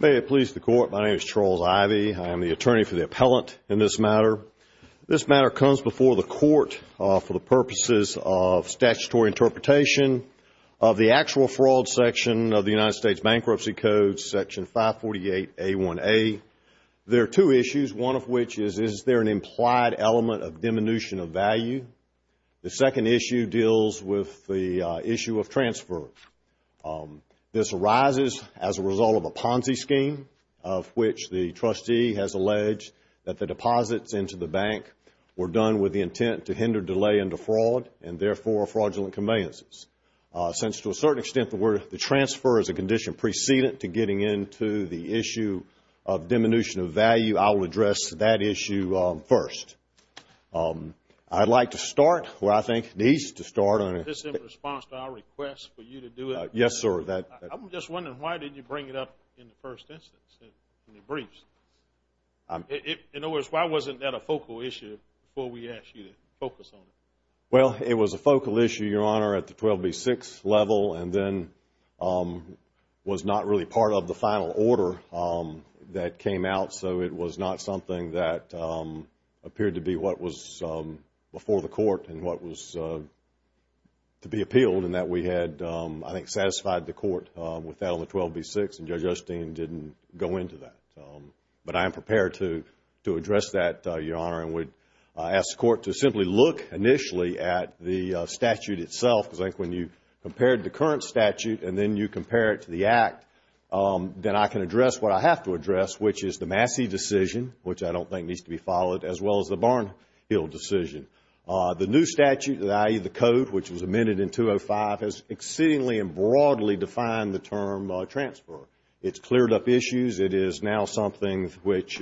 May it please the Court, my name is Charles Ivey. I am the attorney for the appellant in this matter. This matter comes before the Court for the purposes of statutory interpretation of the actual fraud section of the United States Bankruptcy Code, Section 548A1A. There second issue deals with the issue of transfer. This arises as a result of a Ponzi scheme of which the trustee has alleged that the deposits into the bank were done with the intent to hinder delay into fraud and therefore fraudulent conveyances. Since to a certain extent the transfer is a condition preceded to getting into the issue of diminution of the transfer. The appellant's claim is that the transfer was done with the intent to hinder delay into fraud and therefore fraudulent conveyances. The appellant's claim is that the transfer was done with the intent to hinder delay into fraud and therefore fraudulent to be appealed and that we had, I think, satisfied the Court with that on the 12B6 and Judge Osteen didn't go into that. But I am prepared to address that, Your Honor, and would ask the Court to simply look initially at the statute itself because I think when you compared the current statute and then you compare it to the Act, then I can address what I have to address which is the Massey decision which I don't think needs to be followed as well as the Barnhill decision. The new statute, i.e. the Code, which was amended in 205, has exceedingly and broadly defined the term transfer. It has cleared up issues. It is now something which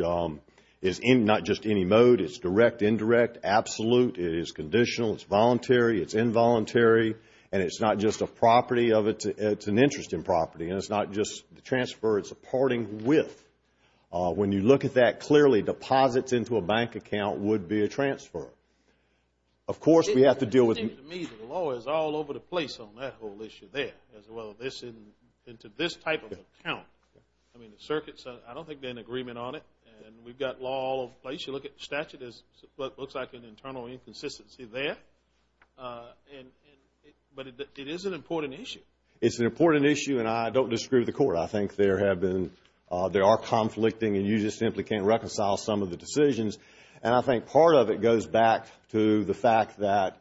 is not just any mode, it is direct, indirect, absolute, it is conditional, it is voluntary, it is involuntary, and it is not just a property of it, it is an interest in property and it is not just the transfer, it is a parting with. When you look at that clearly, deposits into a bank account would be a transfer. Of course, we have to deal with... It seems to me that the law is all over the place on that whole issue there, as well as into this type of account. I mean, the circuit, I don't think there is an agreement on it. And we have got law all over the place. You look at the statute, there is what looks like an internal inconsistency there. But it is an important issue. It is an important issue and I don't disagree with the Court. I think there have been, there are conflicting and you just simply can't reconcile some of the decisions. And I think part of it goes back to the fact that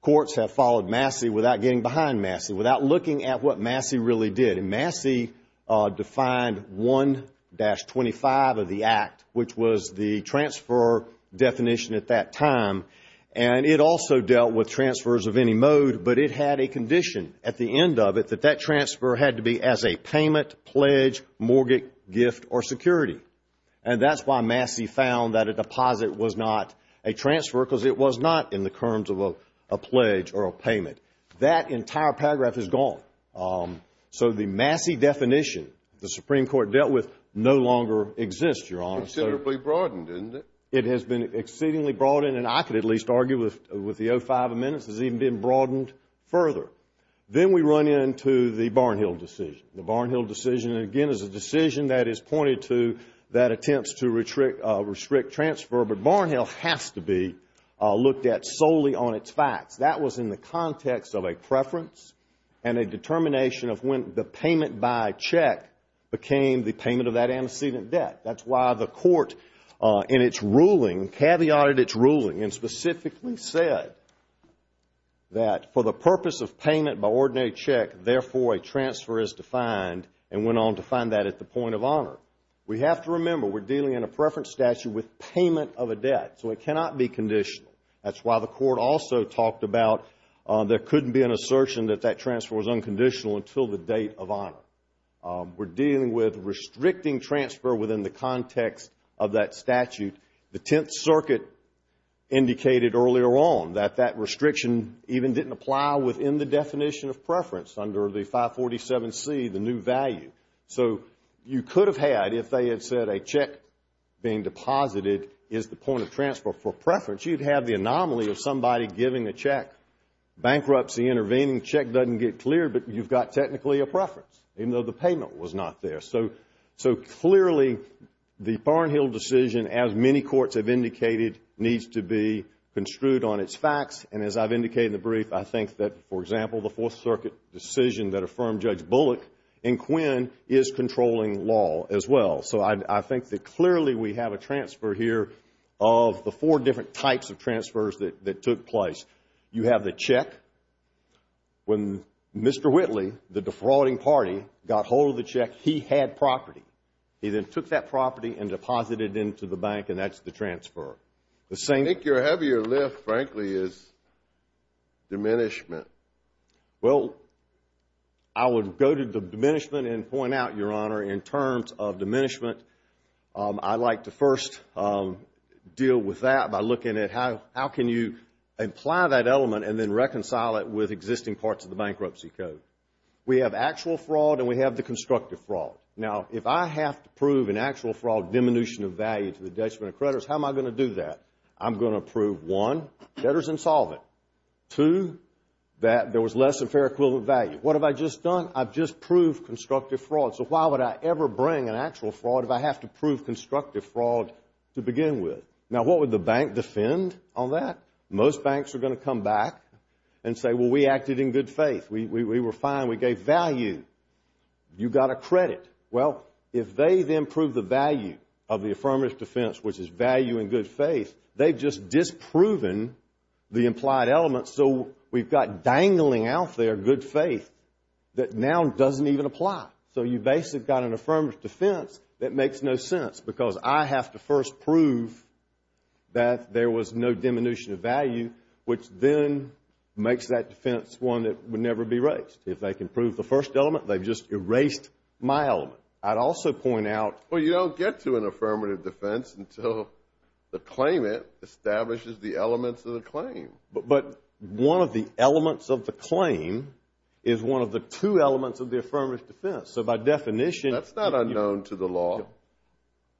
courts have followed Massey without getting behind Massey, without looking at what Massey really did. And Massey defined 1-25 of the Act, which was the transfer definition at that time. And it also dealt with transfers of any mode, but it had a condition at the end of it that that transfer had to be as a payment, pledge, mortgage, gift or security. And that is why Massey found that a deposit was not a transfer because it was not in the terms of a pledge or a payment. That entire paragraph is gone. So the Massey definition, the Supreme Court dealt with, no longer exists, Your Honor. Considerably broadened, isn't it? It has been exceedingly broadened and I could at least argue with the 0-5 amendments, it has even been broadened further. Then we run into the Barnhill decision. The Barnhill decision, again, is a decision that is pointed to that attempts to restrict transfer, but Barnhill has to be looked at solely on its facts. That was in the context of a preference and a determination of when the payment by check became the payment of that antecedent debt. That's why the court in its ruling, caveated its ruling and specifically said that for the purpose of payment by ordinary check, therefore a transfer is defined and went on to find that at the point of honor. We have to remember we're dealing in a preference statute with payment of a debt, so it cannot be conditional. That's why the court also talked about there couldn't be an assertion that that transfer was unconditional until the date of honor. We're dealing with restricting transfer within the context of that statute. The Tenth Circuit indicated earlier on that restriction even didn't apply within the definition of preference under the 547C, the new value. You could have had, if they had said a check being deposited is the point of transfer for preference, you'd have the anomaly of somebody giving a check. Bankruptcy intervening, check doesn't get cleared, but you've got technically a preference, even though the payment was not there. Clearly, the Barnhill decision, as many courts have indicated, needs to be based on these facts, and as I've indicated in the brief, I think that, for example, the Fourth Circuit decision that affirmed Judge Bullock and Quinn is controlling law as well. So I think that clearly we have a transfer here of the four different types of transfers that took place. You have the check. When Mr. Whitley, the defrauding party, got hold of the check, he had property. He then took that property and deposited it into the bank, and that's the transfer. I think your heavier lift, frankly, is diminishment. Well, I would go to the diminishment and point out, Your Honor, in terms of diminishment, I'd like to first deal with that by looking at how can you apply that element and then reconcile it with existing parts of the bankruptcy code. We have actual fraud and we have the constructive fraud. Now, if I have to prove an actual fraud, diminution of value to the bank, and I do that, I'm going to prove, one, debtors insolvent, two, that there was less than fair equivalent value. What have I just done? I've just proved constructive fraud. So why would I ever bring an actual fraud if I have to prove constructive fraud to begin with? Now, what would the bank defend on that? Most banks are going to come back and say, Well, we acted in good faith. We were fine. We gave value. You got a credit. Well, if they then prove the value of the affirmative defense, which is value in good faith, they've just disproven the implied element. So we've got dangling out there good faith that now doesn't even apply. So you basically got an affirmative defense that makes no sense because I have to first prove that there was no diminution of value, which then makes that defense one that would never be raised. If they can prove the first element, they've just erased my element. I'd also point out... Well, you don't get to an affirmative defense until the claimant establishes the elements of the claim. But one of the elements of the claim is one of the two elements of the affirmative defense. So by definition... That's not unknown to the law.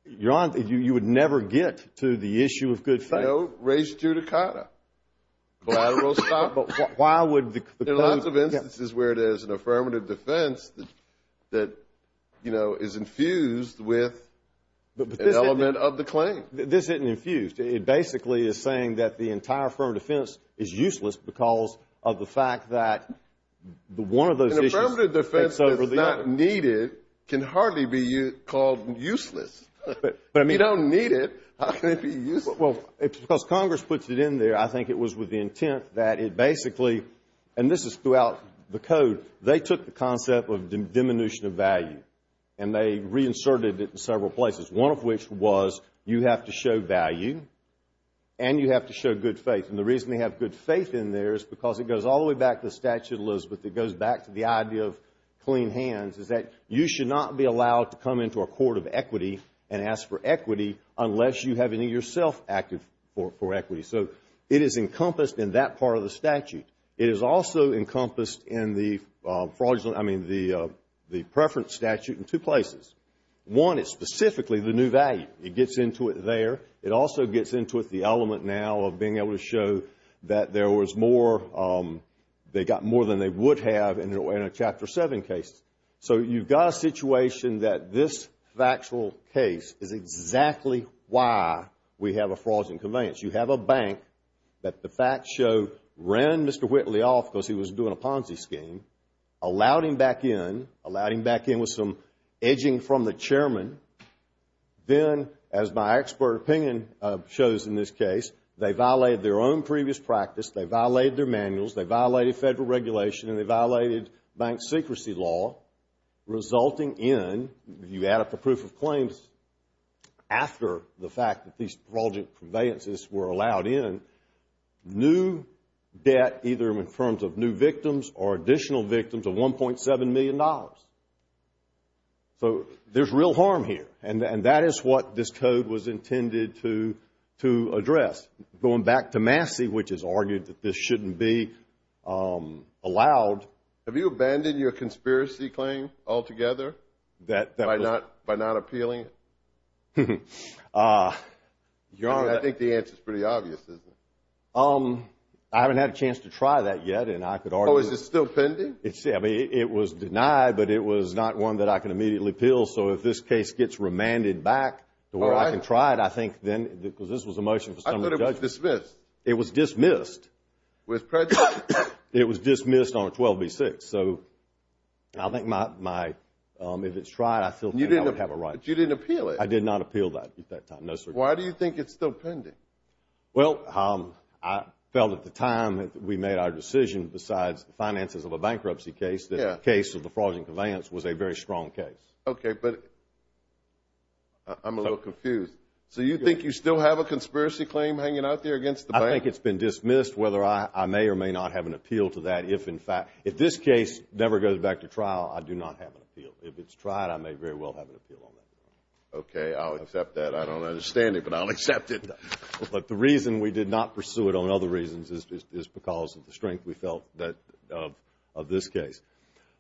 You would never get to the issue of good faith. No. Raise judicata. But why would the... There are lots of instances where there's an affirmative defense that is infused with an element of the claim. This isn't infused. It basically is saying that the entire affirmative defense is useless because of the fact that one of those issues takes over the other. An affirmative defense that's not needed can hardly be called useless. If you don't need it, how can it be useless? Because Congress puts it in there, I think it was with the intent that it basically... And this is throughout the code. They took the concept of diminution of value and they reinserted it in several places, one of which was you have to show value and you have to show good faith. And the reason they have good faith in there is because it goes all the way back to the Statute of Elizabeth. It goes back to the idea of clean hands, is that you should not be allowed to come into a court of equity and ask for equity unless you have any yourself active for equity. So it is encompassed in that part of the statute. It is also encompassed in the preference statute in two places. One is specifically the new value. It gets into it there. It also gets into it the element now of being able to show that there was more, they got more than they would have in a Chapter 7 case. So you've got a situation that this factual case is exactly why we have a fraudulent conveyance. You have a bank that the facts show ran Mr. Whitley off because he was doing a Ponzi scheme, allowed him back in, allowed him back in with some edging from the chairman. Then, as my expert opinion shows in this case, they violated their own previous practice. They violated their manuals. They violated federal regulation and they violated bank secrecy law, resulting in, if after the fact that these fraudulent conveyances were allowed in, new debt either in terms of new victims or additional victims of $1.7 million. So there's real harm here and that is what this code was intended to address. Going back to Massey, which has argued that this shouldn't be allowed. Have you abandoned your conspiracy claim altogether by not appealing it? I think the answer is pretty obvious, isn't it? I haven't had a chance to try that yet and I could argue... Oh, is it still pending? I mean, it was denied, but it was not one that I can immediately appeal. So if this case gets remanded back to where I can try it, I think then, because this was a motion for some judges... I thought it was dismissed. It was dismissed. With prejudice. It was dismissed on 12B6. So I think if it's tried, I still think I would have a right. You didn't appeal it. I did not appeal that at that time, no, sir. Why do you think it's still pending? Well, I felt at the time that we made our decision, besides the finances of a bankruptcy case, that the case of the fraudulent conveyance was a very strong case. Okay, but I'm a little confused. So you think you still have a conspiracy claim hanging out there against the bank? I don't think it's been dismissed, whether I may or may not have an appeal to that. If, in fact, if this case never goes back to trial, I do not have an appeal. If it's tried, I may very well have an appeal on that. Okay. I'll accept that. I don't understand it, but I'll accept it. But the reason we did not pursue it on other reasons is because of the strength we felt of this case.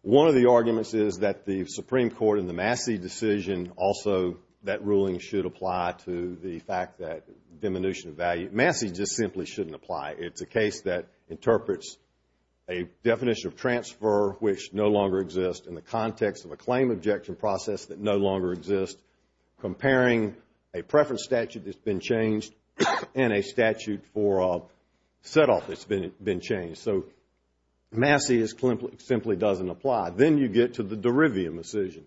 One of the arguments is that the Supreme Court and the Massey decision also, that ruling should apply to the fact that diminution of value. Massey just simply shouldn't apply. It's a case that interprets a definition of transfer, which no longer exists, in the context of a claim objection process that no longer exists, comparing a preference statute that's been changed and a statute for a set-off that's been changed. So Massey simply doesn't apply. Then you get to the Derivium decision,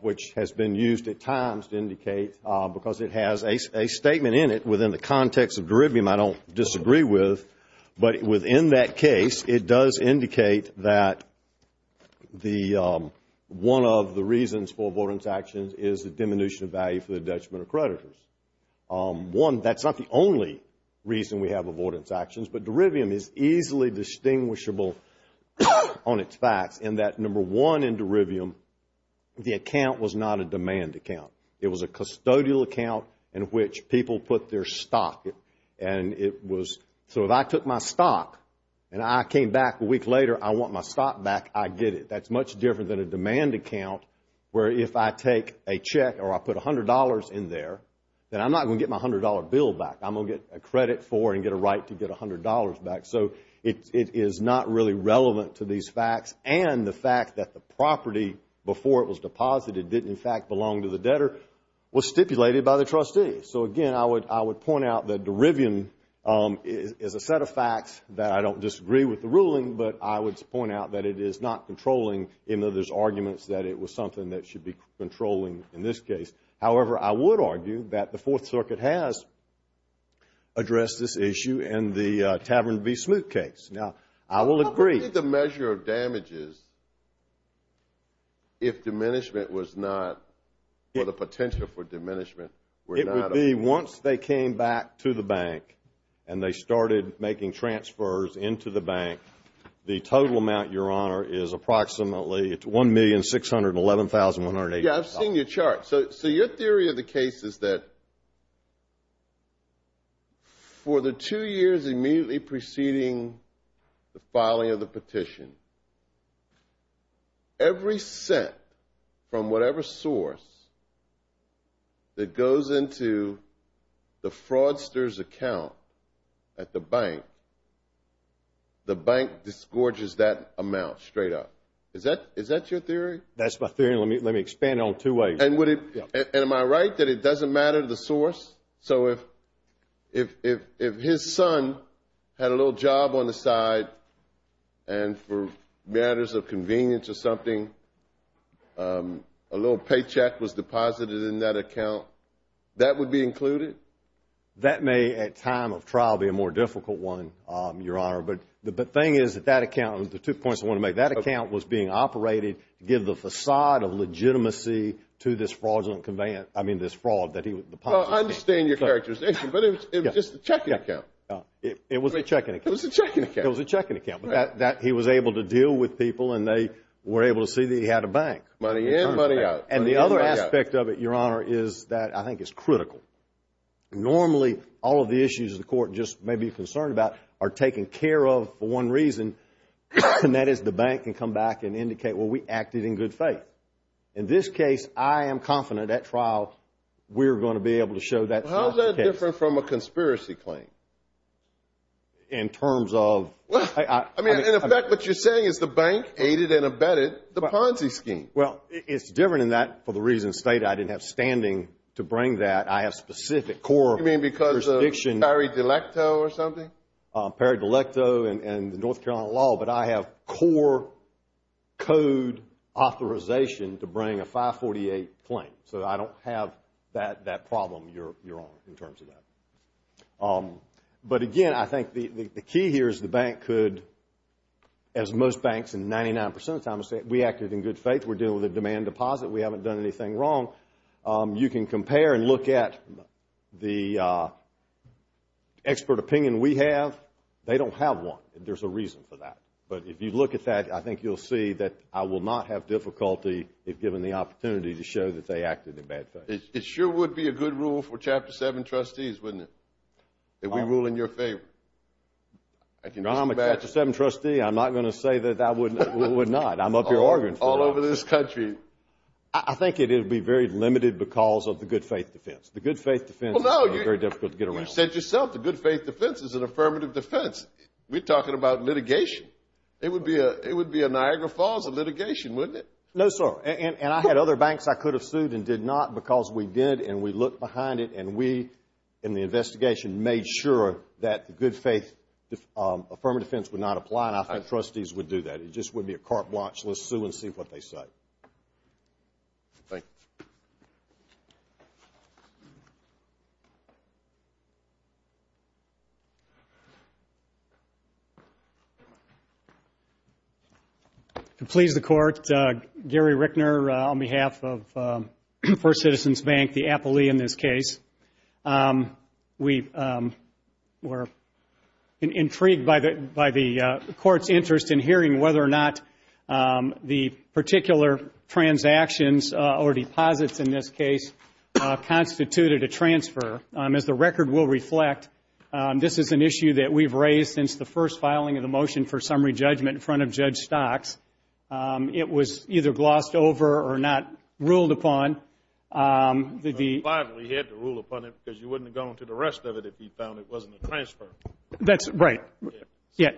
which has been used at times to indicate, because it has a statement in it within the context of Derivium, I don't disagree with, but within that case, it does indicate that one of the reasons for avoidance actions is the diminution of value for the detriment of creditors. That's not the only reason we have avoidance actions, but Derivium is easily distinguishable on its facts in that, number one, in Derivium, the account was not a demand account. It was a custodial account in which people put their stock, and it was, so if I took my stock and I came back a week later, I want my stock back, I get it. That's much different than a demand account, where if I take a check or I put $100 in there, then I'm not going to get my $100 bill back. I'm going to get a credit for it and get a right to get $100 back. So it is not really relevant to these facts, and the fact that the property before it was stipulated by the trustee. So again, I would point out that Derivium is a set of facts that I don't disagree with the ruling, but I would point out that it is not controlling, even though there's arguments that it was something that should be controlling in this case. However, I would argue that the Fourth Circuit has addressed this issue in the Tavern v. Smoot case. Now, I will agree. What would be the measure of damages if diminishment was not, or the potential for diminishment were not up? It would be once they came back to the bank and they started making transfers into the bank, the total amount, Your Honor, is approximately, it's $1,611,180. Yeah, I've seen your chart. So your theory of the case is that for the two years immediately preceding the filing of the petition, every cent from whatever source that goes into the fraudster's account at the bank, the bank disgorges that amount straight up. Is that your theory? That's my theory, and let me expand it on two ways. And am I right that it doesn't matter the source? So if his son had a little job on the side and for matters of convenience or something, a little paycheck was deposited in that account, that would be included? That may, at time of trial, be a more difficult one, Your Honor, but the thing is that that account, the two points I want to make, that account was being operated to give the facade of legitimacy to this fraudulent conveyance, I mean this fraud that he was depositing. Well, I understand your characterization, but it was just a checking account. It was a checking account. It was a checking account. It was a checking account, but that he was able to deal with people and they were able to see that he had a bank. Money in, money out. And the other aspect of it, Your Honor, is that I think it's critical. Normally, all of the issues the court just may be concerned about are taken care of for one reason, and that is the bank can come back and indicate, well, we acted in good faith. In this case, I am confident at trial, we're going to be able to show that's not the case. How is that different from a conspiracy claim? In terms of... I mean, in effect, what you're saying is the bank aided and abetted the Ponzi scheme. Well, it's different in that, for the reasons stated, I didn't have standing to bring that. I have specific core... You mean because of peri-delecto or something? Peri-delecto and the North Carolina law, but I have core code authorization to bring a 548 claim. So I don't have that problem, Your Honor, in terms of that. But again, I think the key here is the bank could, as most banks in 99% of the time, say, we acted in good faith. We're dealing with a demand deposit. We haven't done anything wrong. You can compare and look at the expert opinion we have. They don't have one. There's a reason for that. But if you look at that, I think you'll see that I will not have difficulty if given the opportunity to show that they acted in bad faith. It sure would be a good rule for Chapter 7 trustees, wouldn't it, if we rule in your favor? If I'm a Chapter 7 trustee, I'm not going to say that I would not. I'm up your organ for that. All over this country. I think it would be very limited because of the good faith defense. The good faith defense is very difficult to get around. You said yourself the good faith defense is an affirmative defense. We're talking about litigation. It would be a Niagara Falls litigation, wouldn't it? No, sir. And I had other banks I could have sued and did not because we did and we looked behind it and we, in the investigation, made sure that the good faith affirmative defense would not apply. And I think trustees would do that. It just wouldn't be a carte blanche. Let's sue and see what they say. Thank you. If it pleases the Court, Gary Rickner on behalf of First Citizens Bank, the appellee in this case. We were intrigued by the Court's interest in hearing whether or not the particular transactions or deposits in this case constituted a transfer. As the record will reflect, this is an issue that we've raised since the first filing of the motion for summary judgment in front of Judge Stocks. It was either glossed over or not ruled upon. But finally, he had to rule upon it because you wouldn't have gone to the rest of it if he found it wasn't a transfer. That's right.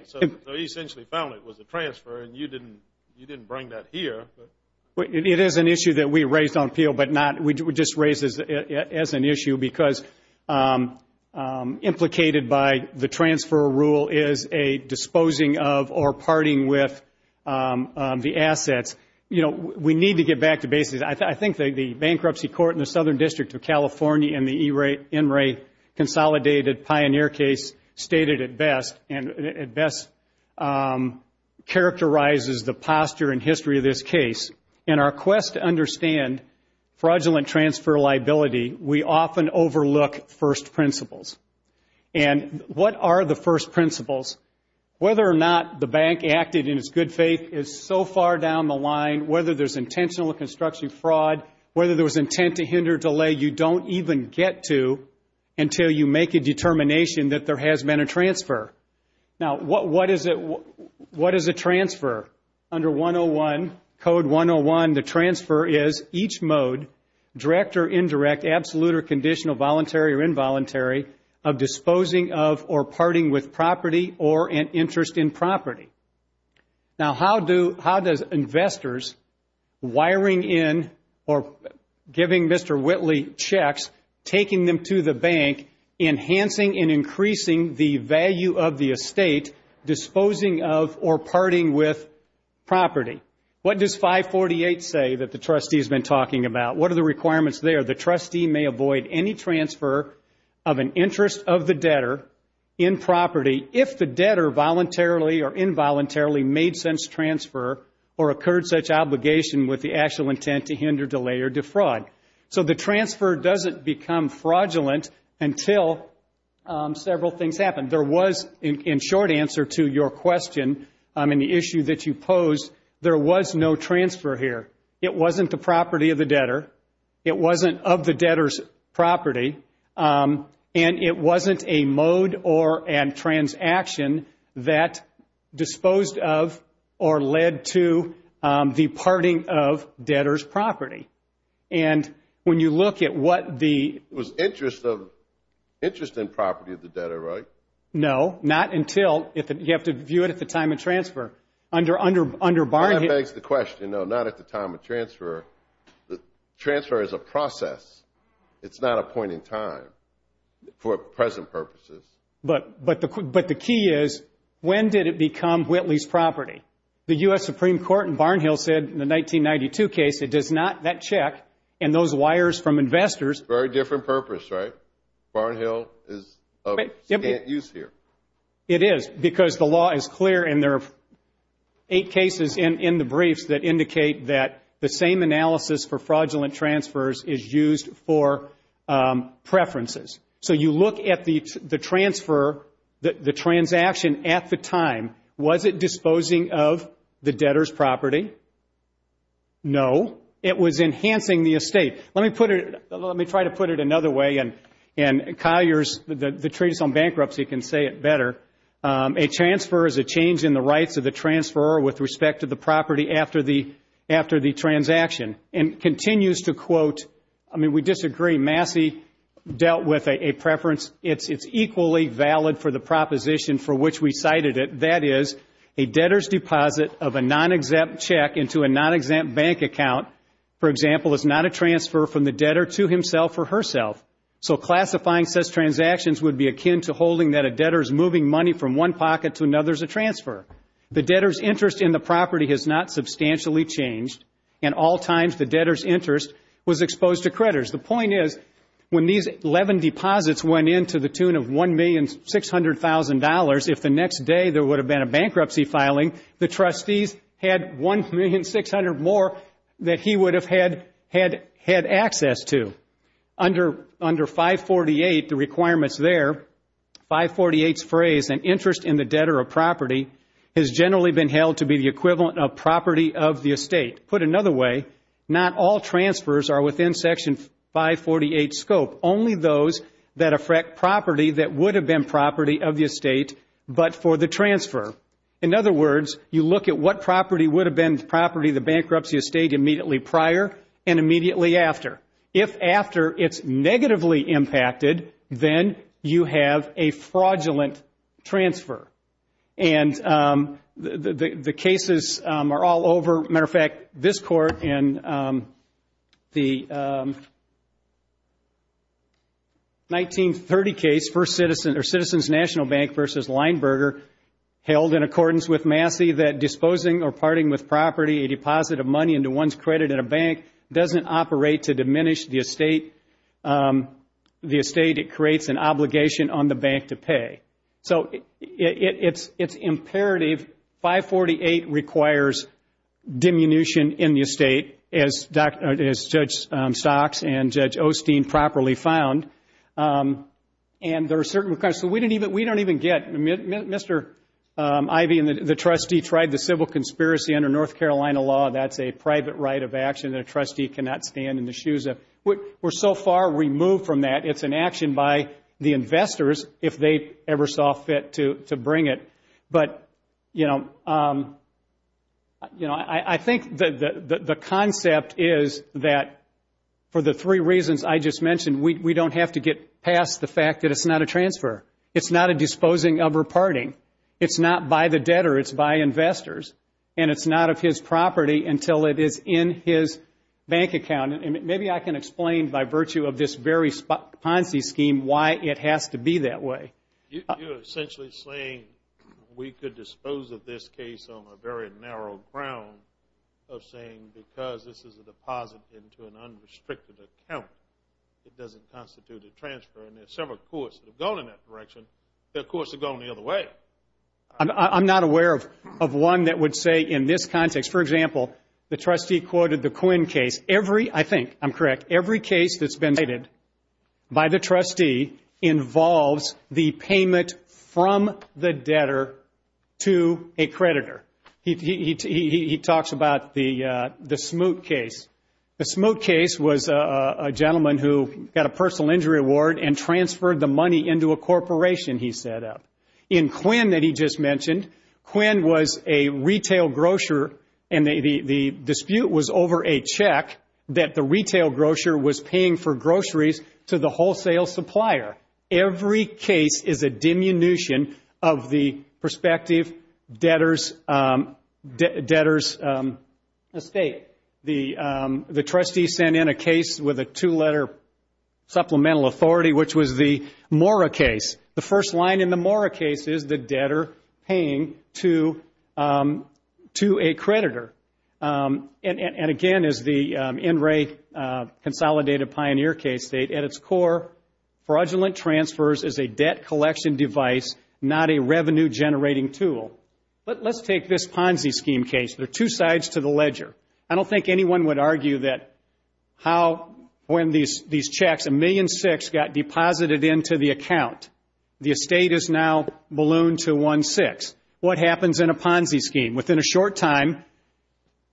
So he essentially found it was a transfer and you didn't bring that here. It is an issue that we raised on appeal, but we just raised it as an issue because implicated by the transfer rule is a disposing of or parting with the assets. We need to get back to basics. I think the Bankruptcy Court in the Southern District of California in the Enright Consolidated Pioneer case stated it best and it best characterizes the posture and history of this case. In our quest to understand fraudulent transfer liability, we often overlook first principles. What are the first principles? Whether or not the bank acted in its good faith is so far down the line, whether there's intentional or construction fraud, whether there was intent to hinder delay, you don't even get to until you make a determination that there has been a transfer. Now what is a transfer? Under 101, Code 101, the transfer is each mode, direct or indirect, absolute or conditional, voluntary or involuntary, of disposing of or parting with property or an interest in property. Now how do, how does investors wiring in or giving Mr. Whitley checks, taking them to the bank, enhancing and increasing the value of the estate, disposing of or parting with property? What does 548 say that the trustee has been talking about? What are the requirements there? The trustee may avoid any transfer of an interest of the debtor in property if the debtor voluntarily or involuntarily made sense transfer or occurred such obligation with the actual intent to hinder delay or defraud. So the transfer doesn't become fraudulent until several things happen. There was, in short answer to your question, I mean the issue that you pose, there was no transfer here. It wasn't the property of the debtor. It wasn't of the debtor's property. And it wasn't a mode or a transaction that disposed of or led to the parting of debtor's property. And when you look at what the... It was interest of, interest in property of the debtor, right? No, not until, you have to view it at the time of transfer. Under Barnhill... Transfer is a process. It's not a point in time for present purposes. But the key is, when did it become Whitley's property? The U.S. Supreme Court in Barnhill said in the 1992 case, it does not, that check and those wires from investors... Very different purpose, right? Barnhill is of use here. It is because the law is clear and there are eight cases in the briefs that indicate that the same analysis for fraudulent transfers is used for preferences. So you look at the transfer, the transaction at the time. Was it disposing of the debtor's property? No. It was enhancing the estate. Let me put it... Let me try to put it another way and Collier's... The Treatise on Bankruptcy can say it better. A transfer is a change in the rights of the transferor with respect to the property after the transaction and continues to quote... I mean, we disagree. Massey dealt with a preference. It's equally valid for the proposition for which we cited it. That is, a debtor's deposit of a non-exempt check into a non-exempt bank account, for example, is not a transfer from the debtor to himself or herself. So classifying such transactions would be akin to holding that a debtor is moving money from one pocket to another as a transfer. The debtor's interest in the property has not substantially changed, and all times the debtor's interest was exposed to creditors. The point is, when these 11 deposits went into the tune of $1,600,000, if the next day there would have been a bankruptcy filing, the trustees had $1,600,000 more that he would have had access to. Under 548, the requirements there, 548's phrase, an interest in the debtor of property, has generally been held to be the equivalent of property of the estate. Put another way, not all transfers are within Section 548 scope, only those that affect property that would have been property of the estate but for the transfer. In other words, you look at what property would have been the property of the bankruptcy estate immediately prior and immediately after. If after, it's negatively impacted, then you have a fraudulent transfer. And the cases are all over. As a matter of fact, this Court in the 1930 case, Citizens National Bank v. Lineberger, held in accordance with Massey that disposing or parting with property, a deposit of money into one's credit at a bank doesn't operate to diminish the estate. It creates an obligation on the bank to pay. So it's imperative 548 requires diminution in the estate, as Judge Stocks and Judge Osteen properly found. And there are certain requirements. So we don't even get Mr. Ivey and the trustee tried the civil conspiracy under North Carolina law. That's a private right of action that a trustee cannot stand in the shoes of. We're so far removed from that. It's an action by the investors if they ever saw fit to bring it. But, you know, I think the concept is that for the three reasons I just mentioned, we don't have to get past the fact that it's not a transfer. It's not a disposing of or parting. It's not by the debtor. It's by investors. And it's not of his property until it is in his bank account. Maybe I can explain by virtue of this very Ponzi scheme why it has to be that way. You're essentially saying we could dispose of this case on a very narrow ground of saying because this is a deposit into an unrestricted account, it doesn't constitute a transfer. And there are several courts that have gone in that direction. There are courts that have gone the other way. I'm not aware of one that would say in this context, for example, the trustee quoted the Quinn case. I think I'm correct. Every case that's been cited by the trustee involves the payment from the debtor to a creditor. He talks about the Smoot case. The Smoot case was a gentleman who got a personal injury award and transferred the money into a corporation he set up. In Quinn that he just mentioned, Quinn was a retail grocer and the dispute was over a check that the retail grocer was paying for groceries to the wholesale supplier. Every case is a diminution of the prospective debtor's estate. The trustee sent in a case with a two-letter supplemental authority, which was the Mora case. The first line in the Mora case is the debtor paying to a creditor. And again, as the NRA Consolidated Pioneer case states, at its core fraudulent transfers is a debt collection device, not a revenue-generating tool. But let's take this Ponzi scheme case. There are two sides to the ledger. I don't think anyone would argue that when these checks, $1.6 million, got deposited into the account, the estate is now ballooned to $1.6. What happens in a Ponzi scheme? Within a short time,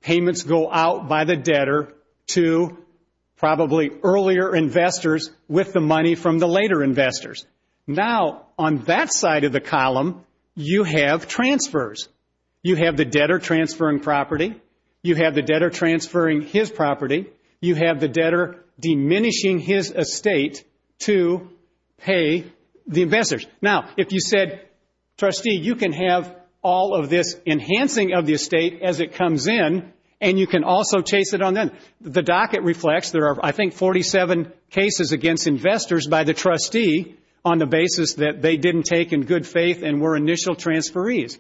payments go out by the debtor to probably earlier investors with the money from the later investors. Now, on that side of the column, you have transfers. You have the debtor transferring property. You have the debtor transferring his property. You have the debtor diminishing his estate to pay the investors. Now, if you said, Trustee, you can have all of this enhancing of the estate as it comes in, and you can also chase it on then. The docket reflects there are, I think, 47 cases against investors by the trustee on the basis that they didn't take in good faith and were initial transferees.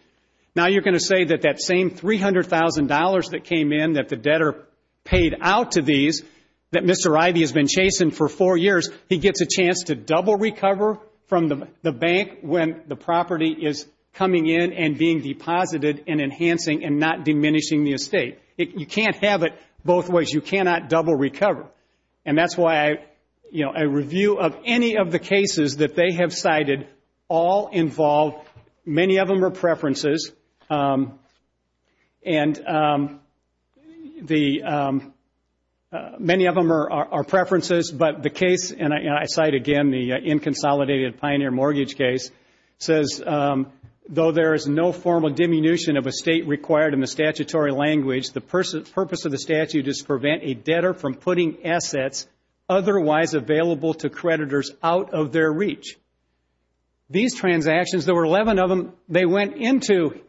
Now, you're going to say that that same $300,000 that came in that the debtor paid out to these that Mr. Ivey has been chasing for four years, he gets a chance to double recover from the bank when the property is coming in and being deposited and enhancing and not diminishing the estate. You can't have it both ways. You cannot double recover. And that's why a review of any of the cases that they have cited all involve, many of them are preferences, and many of them are preferences, but the case, and I cite again the inconsolidated pioneer mortgage case, says, though there is no formal diminution of estate required in the statutory language, the purpose of the statute is to prevent a debtor from putting assets otherwise available to creditors out of their reach. These transactions, there were 11 of them, they went into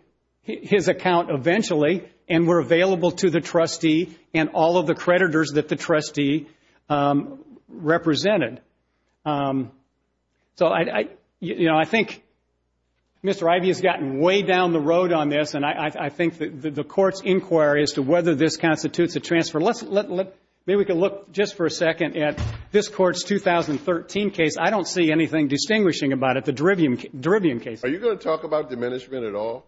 his account eventually and were available to the trustee and all of the creditors that the trustee represented. So, you know, I think Mr. Ivey has gotten way down the road on this, and I think the Court's inquiry as to whether this constitutes a transfer, maybe we can look just for a second at this Court's 2013 case. I don't see anything distinguishing about it, the Derivium case. Are you going to talk about diminishment at all?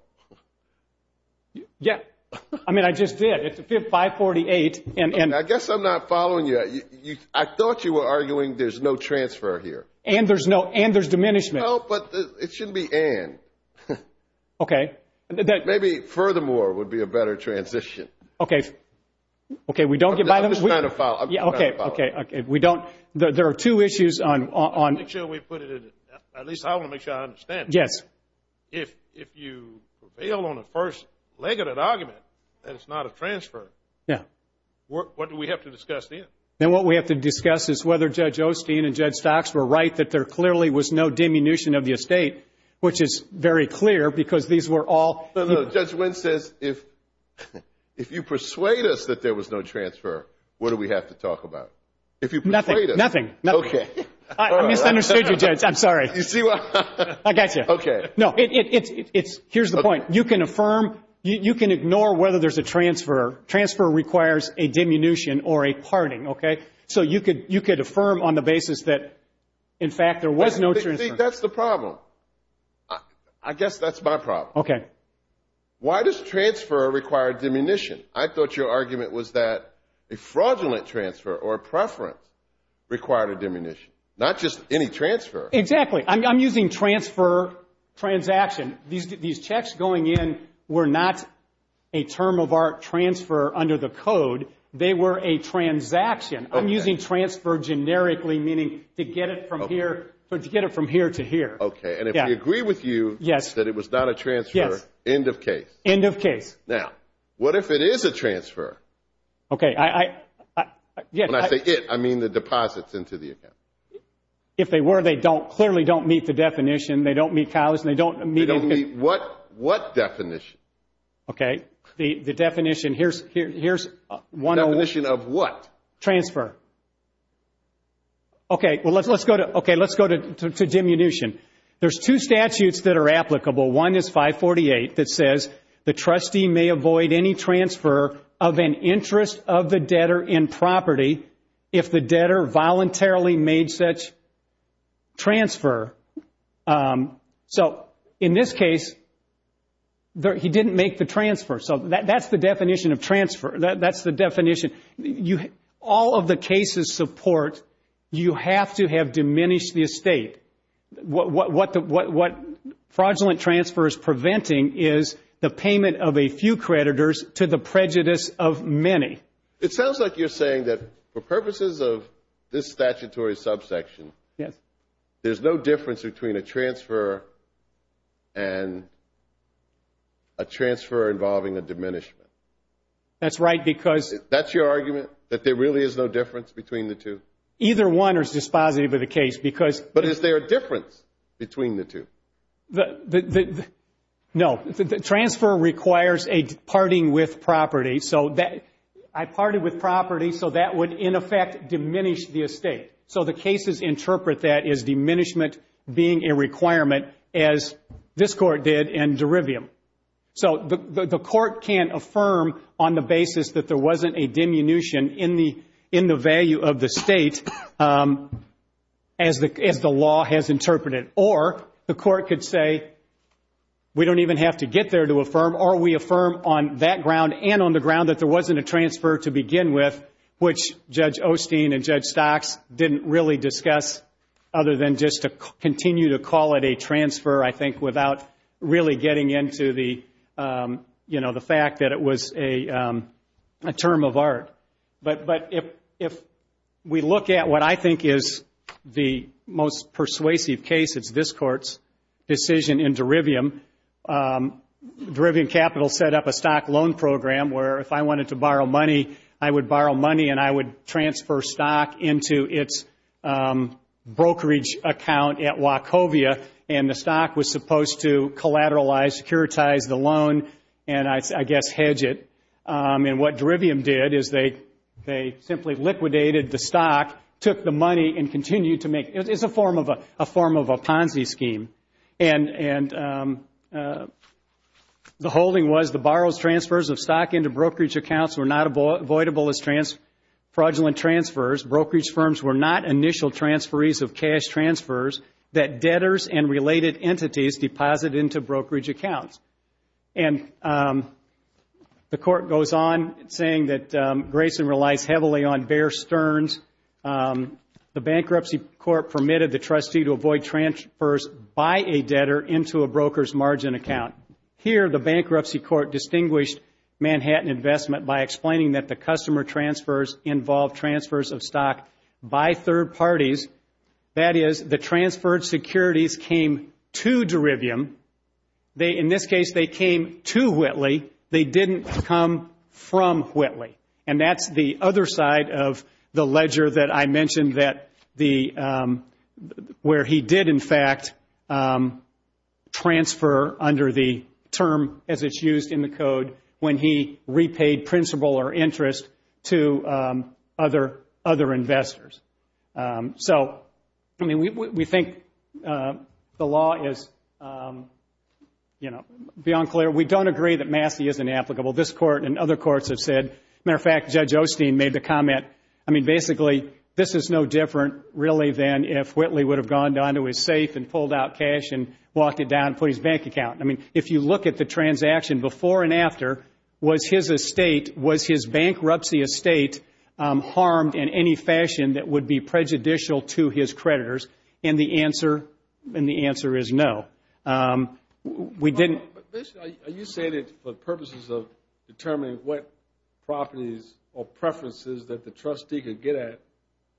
Yeah. I mean, I just did. It's 548. I guess I'm not following you. I thought you were arguing there's no transfer here. And there's diminishment. No, but it shouldn't be and. Okay. Maybe furthermore would be a better transition. Okay. I'm just trying to follow. Okay. There are two issues on. At least I want to make sure I understand. Yes. If you prevail on the first leg of that argument that it's not a transfer, what do we have to discuss then? Then what we have to discuss is whether Judge Osteen and Judge Stocks were right that there clearly was no diminution of the estate, which is very clear because these were all. Judge Wynn says if you persuade us that there was no transfer, what do we have to talk about? Nothing. Okay. I misunderstood you, Judge. I'm sorry. I got you. Okay. No. Here's the point. You can affirm. You can ignore whether there's a transfer. Transfer requires a diminution or a parting, okay? So you could affirm on the basis that, in fact, there was no transfer. See, that's the problem. I guess that's my problem. Okay. Why does transfer require diminution? I thought your argument was that a fraudulent transfer or a preference required a diminution, not just any transfer. Exactly. I'm using transfer, transaction. These checks going in were not a term of art transfer under the code. They were a transaction. I'm using transfer generically, meaning to get it from here to here. Okay. And if we agree with you that it was not a transfer, end of case. End of case. Now, what if it is a transfer? Okay. When I say it, I mean the deposits into the account. If they were, they clearly don't meet the definition. They don't meet college and they don't meet anything. They don't meet what definition? Okay. The definition, here's one of them. Definition of what? Transfer. Okay. Well, let's go to diminution. There's two statutes that are applicable. One is 548 that says, the trustee may avoid any transfer of an interest of the debtor in property if the debtor voluntarily made such transfer. So in this case, he didn't make the transfer. So that's the definition of transfer. That's the definition. All of the cases support you have to have diminished the estate. What fraudulent transfer is preventing is the payment of a few creditors to the prejudice of many. It sounds like you're saying that for purposes of this statutory subsection, there's no difference between a transfer and a transfer involving a diminishment. That's right because – That's your argument, that there really is no difference between the two? Either one is dispositive of the case because – But is there a difference between the two? No. The transfer requires a parting with property. I parted with property so that would, in effect, diminish the estate. So the cases interpret that as diminishment being a requirement, as this court did in Derivium. So the court can't affirm on the basis that there wasn't a diminution in the value of the state as the law has interpreted. Or the court could say we don't even have to get there to affirm or we affirm on that ground and on the ground that there wasn't a transfer to begin with, which Judge Osteen and Judge Stocks didn't really discuss other than just to continue to call it a transfer, I think, without really getting into the fact that it was a term of art. But if we look at what I think is the most persuasive case, it's this court's decision in Derivium. Derivium Capital set up a stock loan program where if I wanted to borrow money, I would borrow money and I would transfer stock into its brokerage account at Wachovia, and the stock was supposed to collateralize, securitize the loan, and I guess hedge it. And what Derivium did is they simply liquidated the stock, took the money, and continued to make it. It's a form of a Ponzi scheme. And the holding was the borrowers' transfers of stock into brokerage accounts were not avoidable as fraudulent transfers. Brokerage firms were not initial transferees of cash transfers that debtors and related entities deposited into brokerage accounts. And the court goes on saying that Grayson relies heavily on Bear Stearns. The Bankruptcy Court permitted the trustee to avoid transfers by a debtor into a broker's margin account. Here, the Bankruptcy Court distinguished Manhattan investment by explaining that the customer transfers involved transfers of stock by third parties. That is, the transferred securities came to Derivium. In this case, they came to Whitley. They didn't come from Whitley. And that's the other side of the ledger that I mentioned where he did, in fact, transfer under the term as it's used in the code when he repaid principal or interest to other investors. So, I mean, we think the law is, you know, beyond clear. We don't agree that Massey isn't applicable. This court and other courts have said. As a matter of fact, Judge Osteen made the comment. I mean, basically, this is no different, really, than if Whitley would have gone down to his safe and pulled out cash and walked it down and put it in his bank account. I mean, if you look at the transaction before and after, was his estate, was his bankruptcy estate harmed in any fashion that would be prejudicial to his creditors? And the answer is no. We didn't. But, basically, are you saying that for purposes of determining what properties or preferences that the trustee could get at,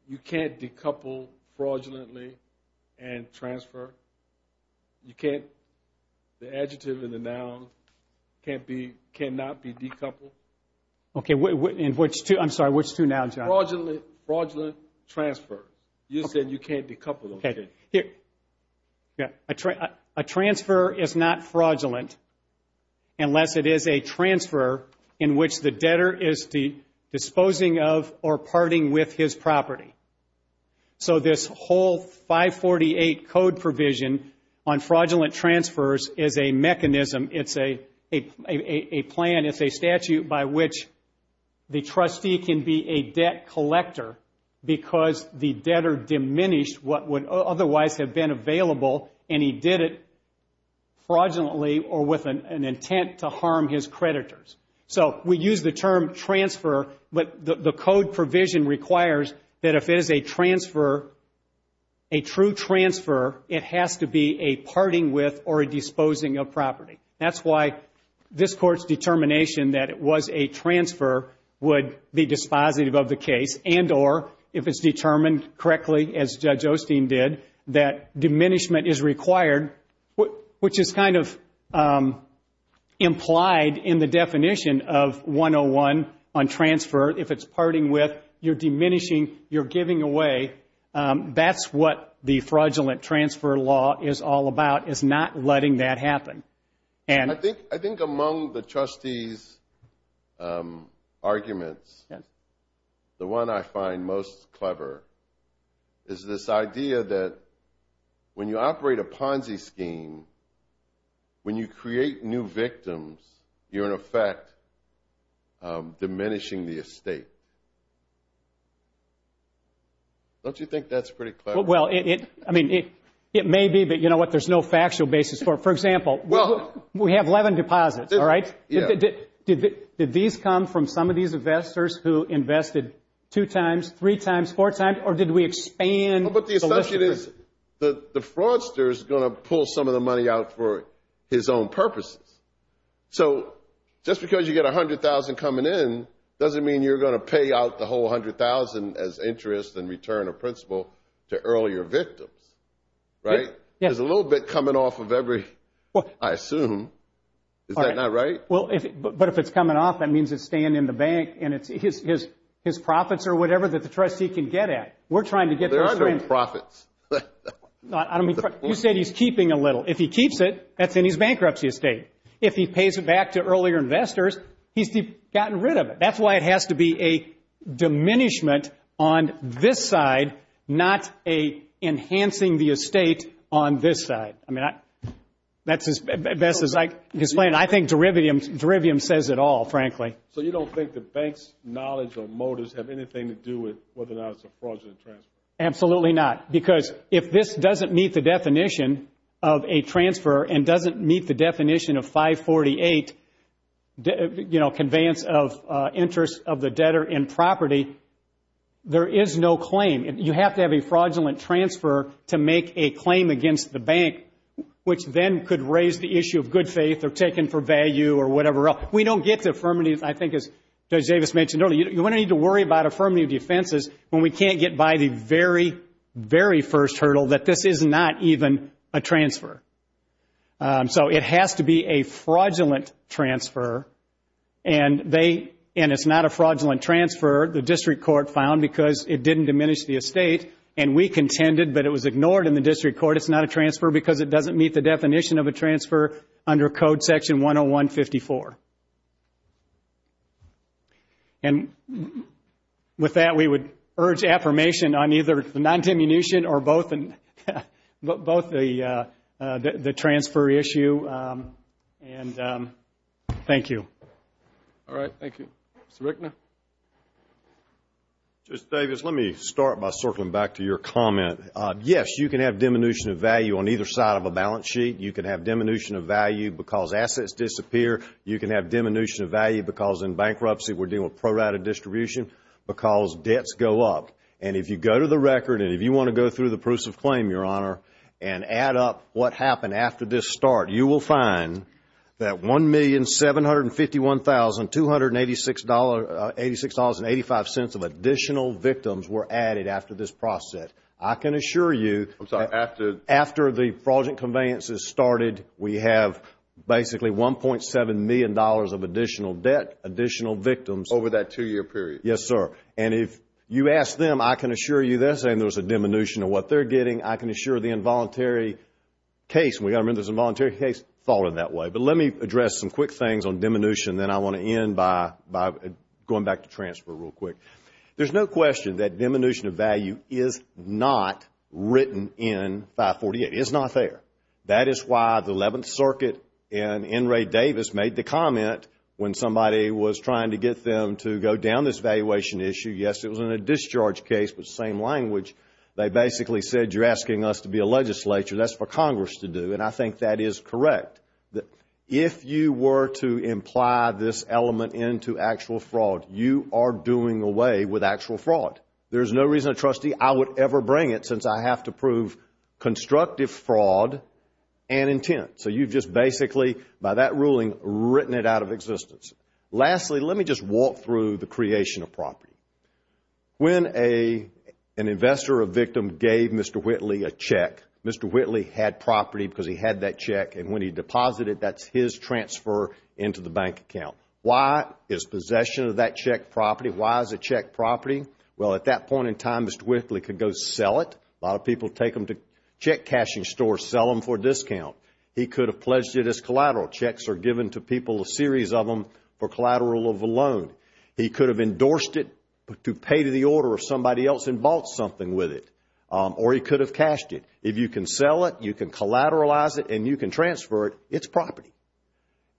you can't decouple fraudulently and transfer? You can't? The adjective and the noun cannot be decoupled? Okay. And which two? I'm sorry, which two now, John? Fraudulent transfer. You said you can't decouple them. Okay. A transfer is not fraudulent unless it is a transfer in which the debtor is disposing of or parting with his property. So this whole 548 code provision on fraudulent transfers is a mechanism, it's a plan, it's a statute by which the trustee can be a debt collector because the debtor diminished what would otherwise have been available and he did it fraudulently or with an intent to harm his creditors. So we use the term transfer, but the code provision requires that if it is a transfer, a true transfer, it has to be a parting with or a disposing of property. That's why this Court's determination that it was a transfer would be dispositive of the case and or, if it's determined correctly, as Judge Osteen did, that diminishment is required, which is kind of implied in the definition of 101 on transfer. If it's parting with, you're diminishing, you're giving away. That's what the fraudulent transfer law is all about, is not letting that happen. And I think among the trustees' arguments, the one I find most clever is this idea that when you operate a Ponzi scheme, when you create new victims, you're in effect diminishing the estate. Don't you think that's pretty clever? Well, I mean, it may be, but you know what? There's no factual basis for it. For example, we have 11 deposits, all right? Did these come from some of these investors who invested two times, three times, four times, or did we expand? But the assumption is that the fraudster is going to pull some of the money out for his own purposes. So just because you get $100,000 coming in doesn't mean you're going to pay out the whole $100,000 as interest in return or principal to earlier victims, right? There's a little bit coming off of every, I assume. Is that not right? But if it's coming off, that means it's staying in the bank, and it's his profits or whatever that the trustee can get at. We're trying to get those things. There are no profits. You said he's keeping a little. If he keeps it, that's in his bankruptcy estate. If he pays it back to earlier investors, he's gotten rid of it. That's why it has to be a diminishment on this side, not enhancing the estate on this side. I mean, that's as best as I can explain it. I think derivative says it all, frankly. So you don't think the bank's knowledge or motives have anything to do with the knowledge of fraudulent transfer? Absolutely not, because if this doesn't meet the definition of a transfer and doesn't meet the definition of 548 conveyance of interest of the debtor in property, there is no claim. You have to have a fraudulent transfer to make a claim against the bank, which then could raise the issue of good faith or taken for value or whatever else. We don't get to affirmative, I think, as Judge Davis mentioned earlier. You're going to need to worry about affirmative defenses when we can't get by the very, very first hurdle that this is not even a transfer. So it has to be a fraudulent transfer, and it's not a fraudulent transfer. The district court found because it didn't diminish the estate, and we contended that it was ignored in the district court. It's not a transfer because it doesn't meet the definition of a transfer under Code Section 101-54. And with that, we would urge affirmation on either non-diminution or both the transfer issue, and thank you. All right, thank you. Mr. Rickner? Judge Davis, let me start by circling back to your comment. Yes, you can have diminution of value on either side of a balance sheet. You can have diminution of value because assets disappear. You can have diminution of value because in bankruptcy we're dealing with prorated distribution because debts go up. And if you go to the record, and if you want to go through the proofs of claim, Your Honor, and add up what happened after this start, you will find that $1,751,286.85 of additional victims were added after this process. I can assure you that after the fraudulent conveyances, started we have basically $1.7 million of additional debt, additional victims. Over that two-year period? Yes, sir. And if you ask them, I can assure you they're saying there was a diminution of what they're getting. I can assure the involuntary case. We've got to remember there's an involuntary case falling that way. But let me address some quick things on diminution, and then I want to end by going back to transfer real quick. There's no question that diminution of value is not written in 548. It's not fair. That is why the 11th Circuit and N. Ray Davis made the comment when somebody was trying to get them to go down this valuation issue. Yes, it was in a discharge case, but same language. They basically said, you're asking us to be a legislature. That's for Congress to do, and I think that is correct. If you were to imply this element into actual fraud, you are doing away with actual fraud. There's no reason, Trustee, I would ever bring it, I have to prove constructive fraud and intent. So you've just basically, by that ruling, written it out of existence. Lastly, let me just walk through the creation of property. When an investor or victim gave Mr. Whitley a check, Mr. Whitley had property because he had that check, and when he deposited, that's his transfer into the bank account. Why is possession of that check property? Why is it check property? Well, at that point in time, Mr. Whitley could go sell it. A lot of people take them to check cashing stores, sell them for a discount. He could have pledged it as collateral. Checks are given to people, a series of them, for collateral of a loan. He could have endorsed it to pay to the order of somebody else and bought something with it, or he could have cashed it. If you can sell it, you can collateralize it, and you can transfer it, it's property.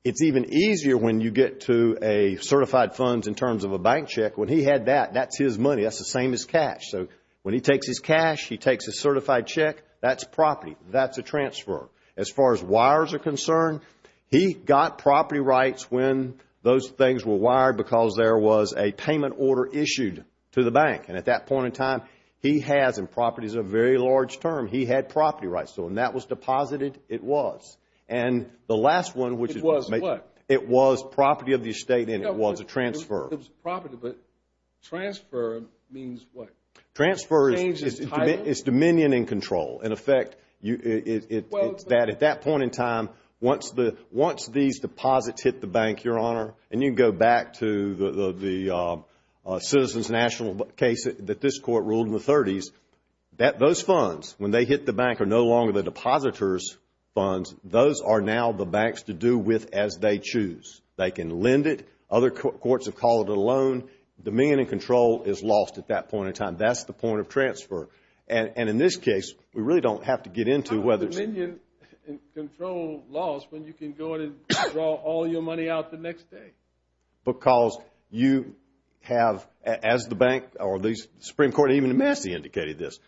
It's even easier when you get to certified funds in terms of a bank check. When he had that, that's his money. That's the same as cash. So when he takes his cash, he takes his certified check, that's property. That's a transfer. As far as wires are concerned, he got property rights when those things were wired because there was a payment order issued to the bank, and at that point in time, he has in properties a very large term. He had property rights, so when that was deposited, it was. And the last one, which is what? It was what? It was property of the estate, and it was a transfer. It was property, but transfer means what? Transfer is dominion and control. In effect, it's that at that point in time, once these deposits hit the bank, Your Honor, and you go back to the Citizens National case that this court ruled in the 30s, those funds, when they hit the bank, are no longer the depositor's funds. Those are now the banks to do with as they choose. They can lend it. Other courts have called it a loan. Dominion and control is lost at that point in time. That's the point of transfer. And in this case, we really don't have to get into whether it's... How do dominion and control laws when you can go in and draw all your money out the next day? Because you have, as the bank or the Supreme Court, even the Massey indicated this,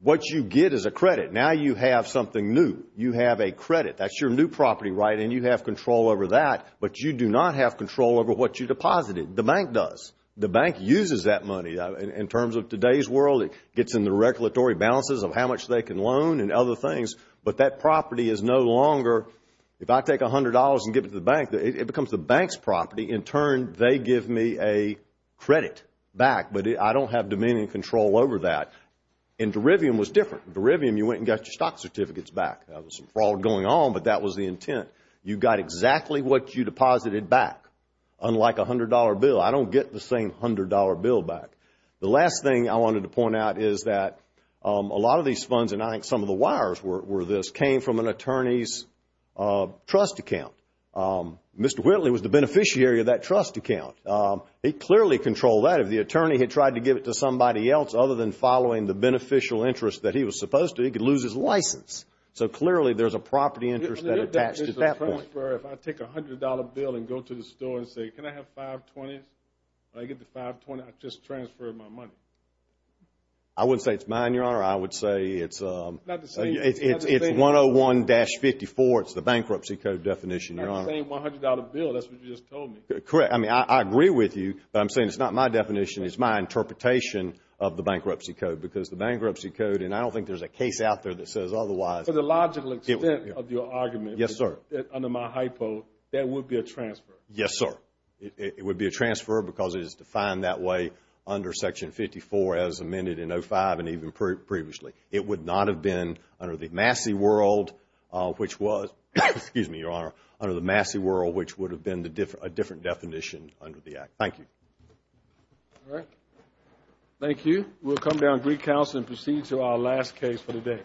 what you get is a credit. Now you have something new. You have a credit. That's your new property, right? And you have control over that. But you do not have control over what you deposited. The bank does. The bank uses that money. In terms of today's world, it gets in the regulatory balances of how much they can loan and other things. But that property is no longer... If I take $100 and give it to the bank, it becomes the bank's property. In turn, they give me a credit back. But I don't have dominion and control over that. And derivium was different. Derivium, you went and got your stock certificates back. There was some fraud going on, but that was the intent. You got exactly what you deposited back, unlike a $100 bill. I don't get the same $100 bill back. The last thing I wanted to point out is that a lot of these funds, and I think some of the wires were this, came from an attorney's trust account. Mr. Whitley was the beneficiary of that trust account. He clearly controlled that. If the attorney had tried to give it to somebody else other than following the beneficial interest that he was supposed to, he could lose his license. So clearly there's a property interest that attached to that one. If I take a $100 bill and go to the store and say, can I have five 20s, and I get the five 20s, I just transferred my money. I wouldn't say it's mine, Your Honor. I would say it's 101-54. It's the Bankruptcy Code definition, Your Honor. Not the same $100 bill. That's what you just told me. Correct. I mean, I agree with you, but I'm saying it's not my definition. It's my interpretation of the Bankruptcy Code because the Bankruptcy Code, and I don't think there's a case out there that says otherwise. To the logical extent of your argument. Yes, sir. Under my hypo, that would be a transfer. Yes, sir. It would be a transfer because it is defined that way under Section 54 as amended in 05 and even previously. It would not have been under the Massey World, which was, excuse me, Your Honor, under the Massey World, which would have been a different definition under the Act. Thank you. All right. Thank you. We'll come down to Greek Council and proceed to our last case for the day.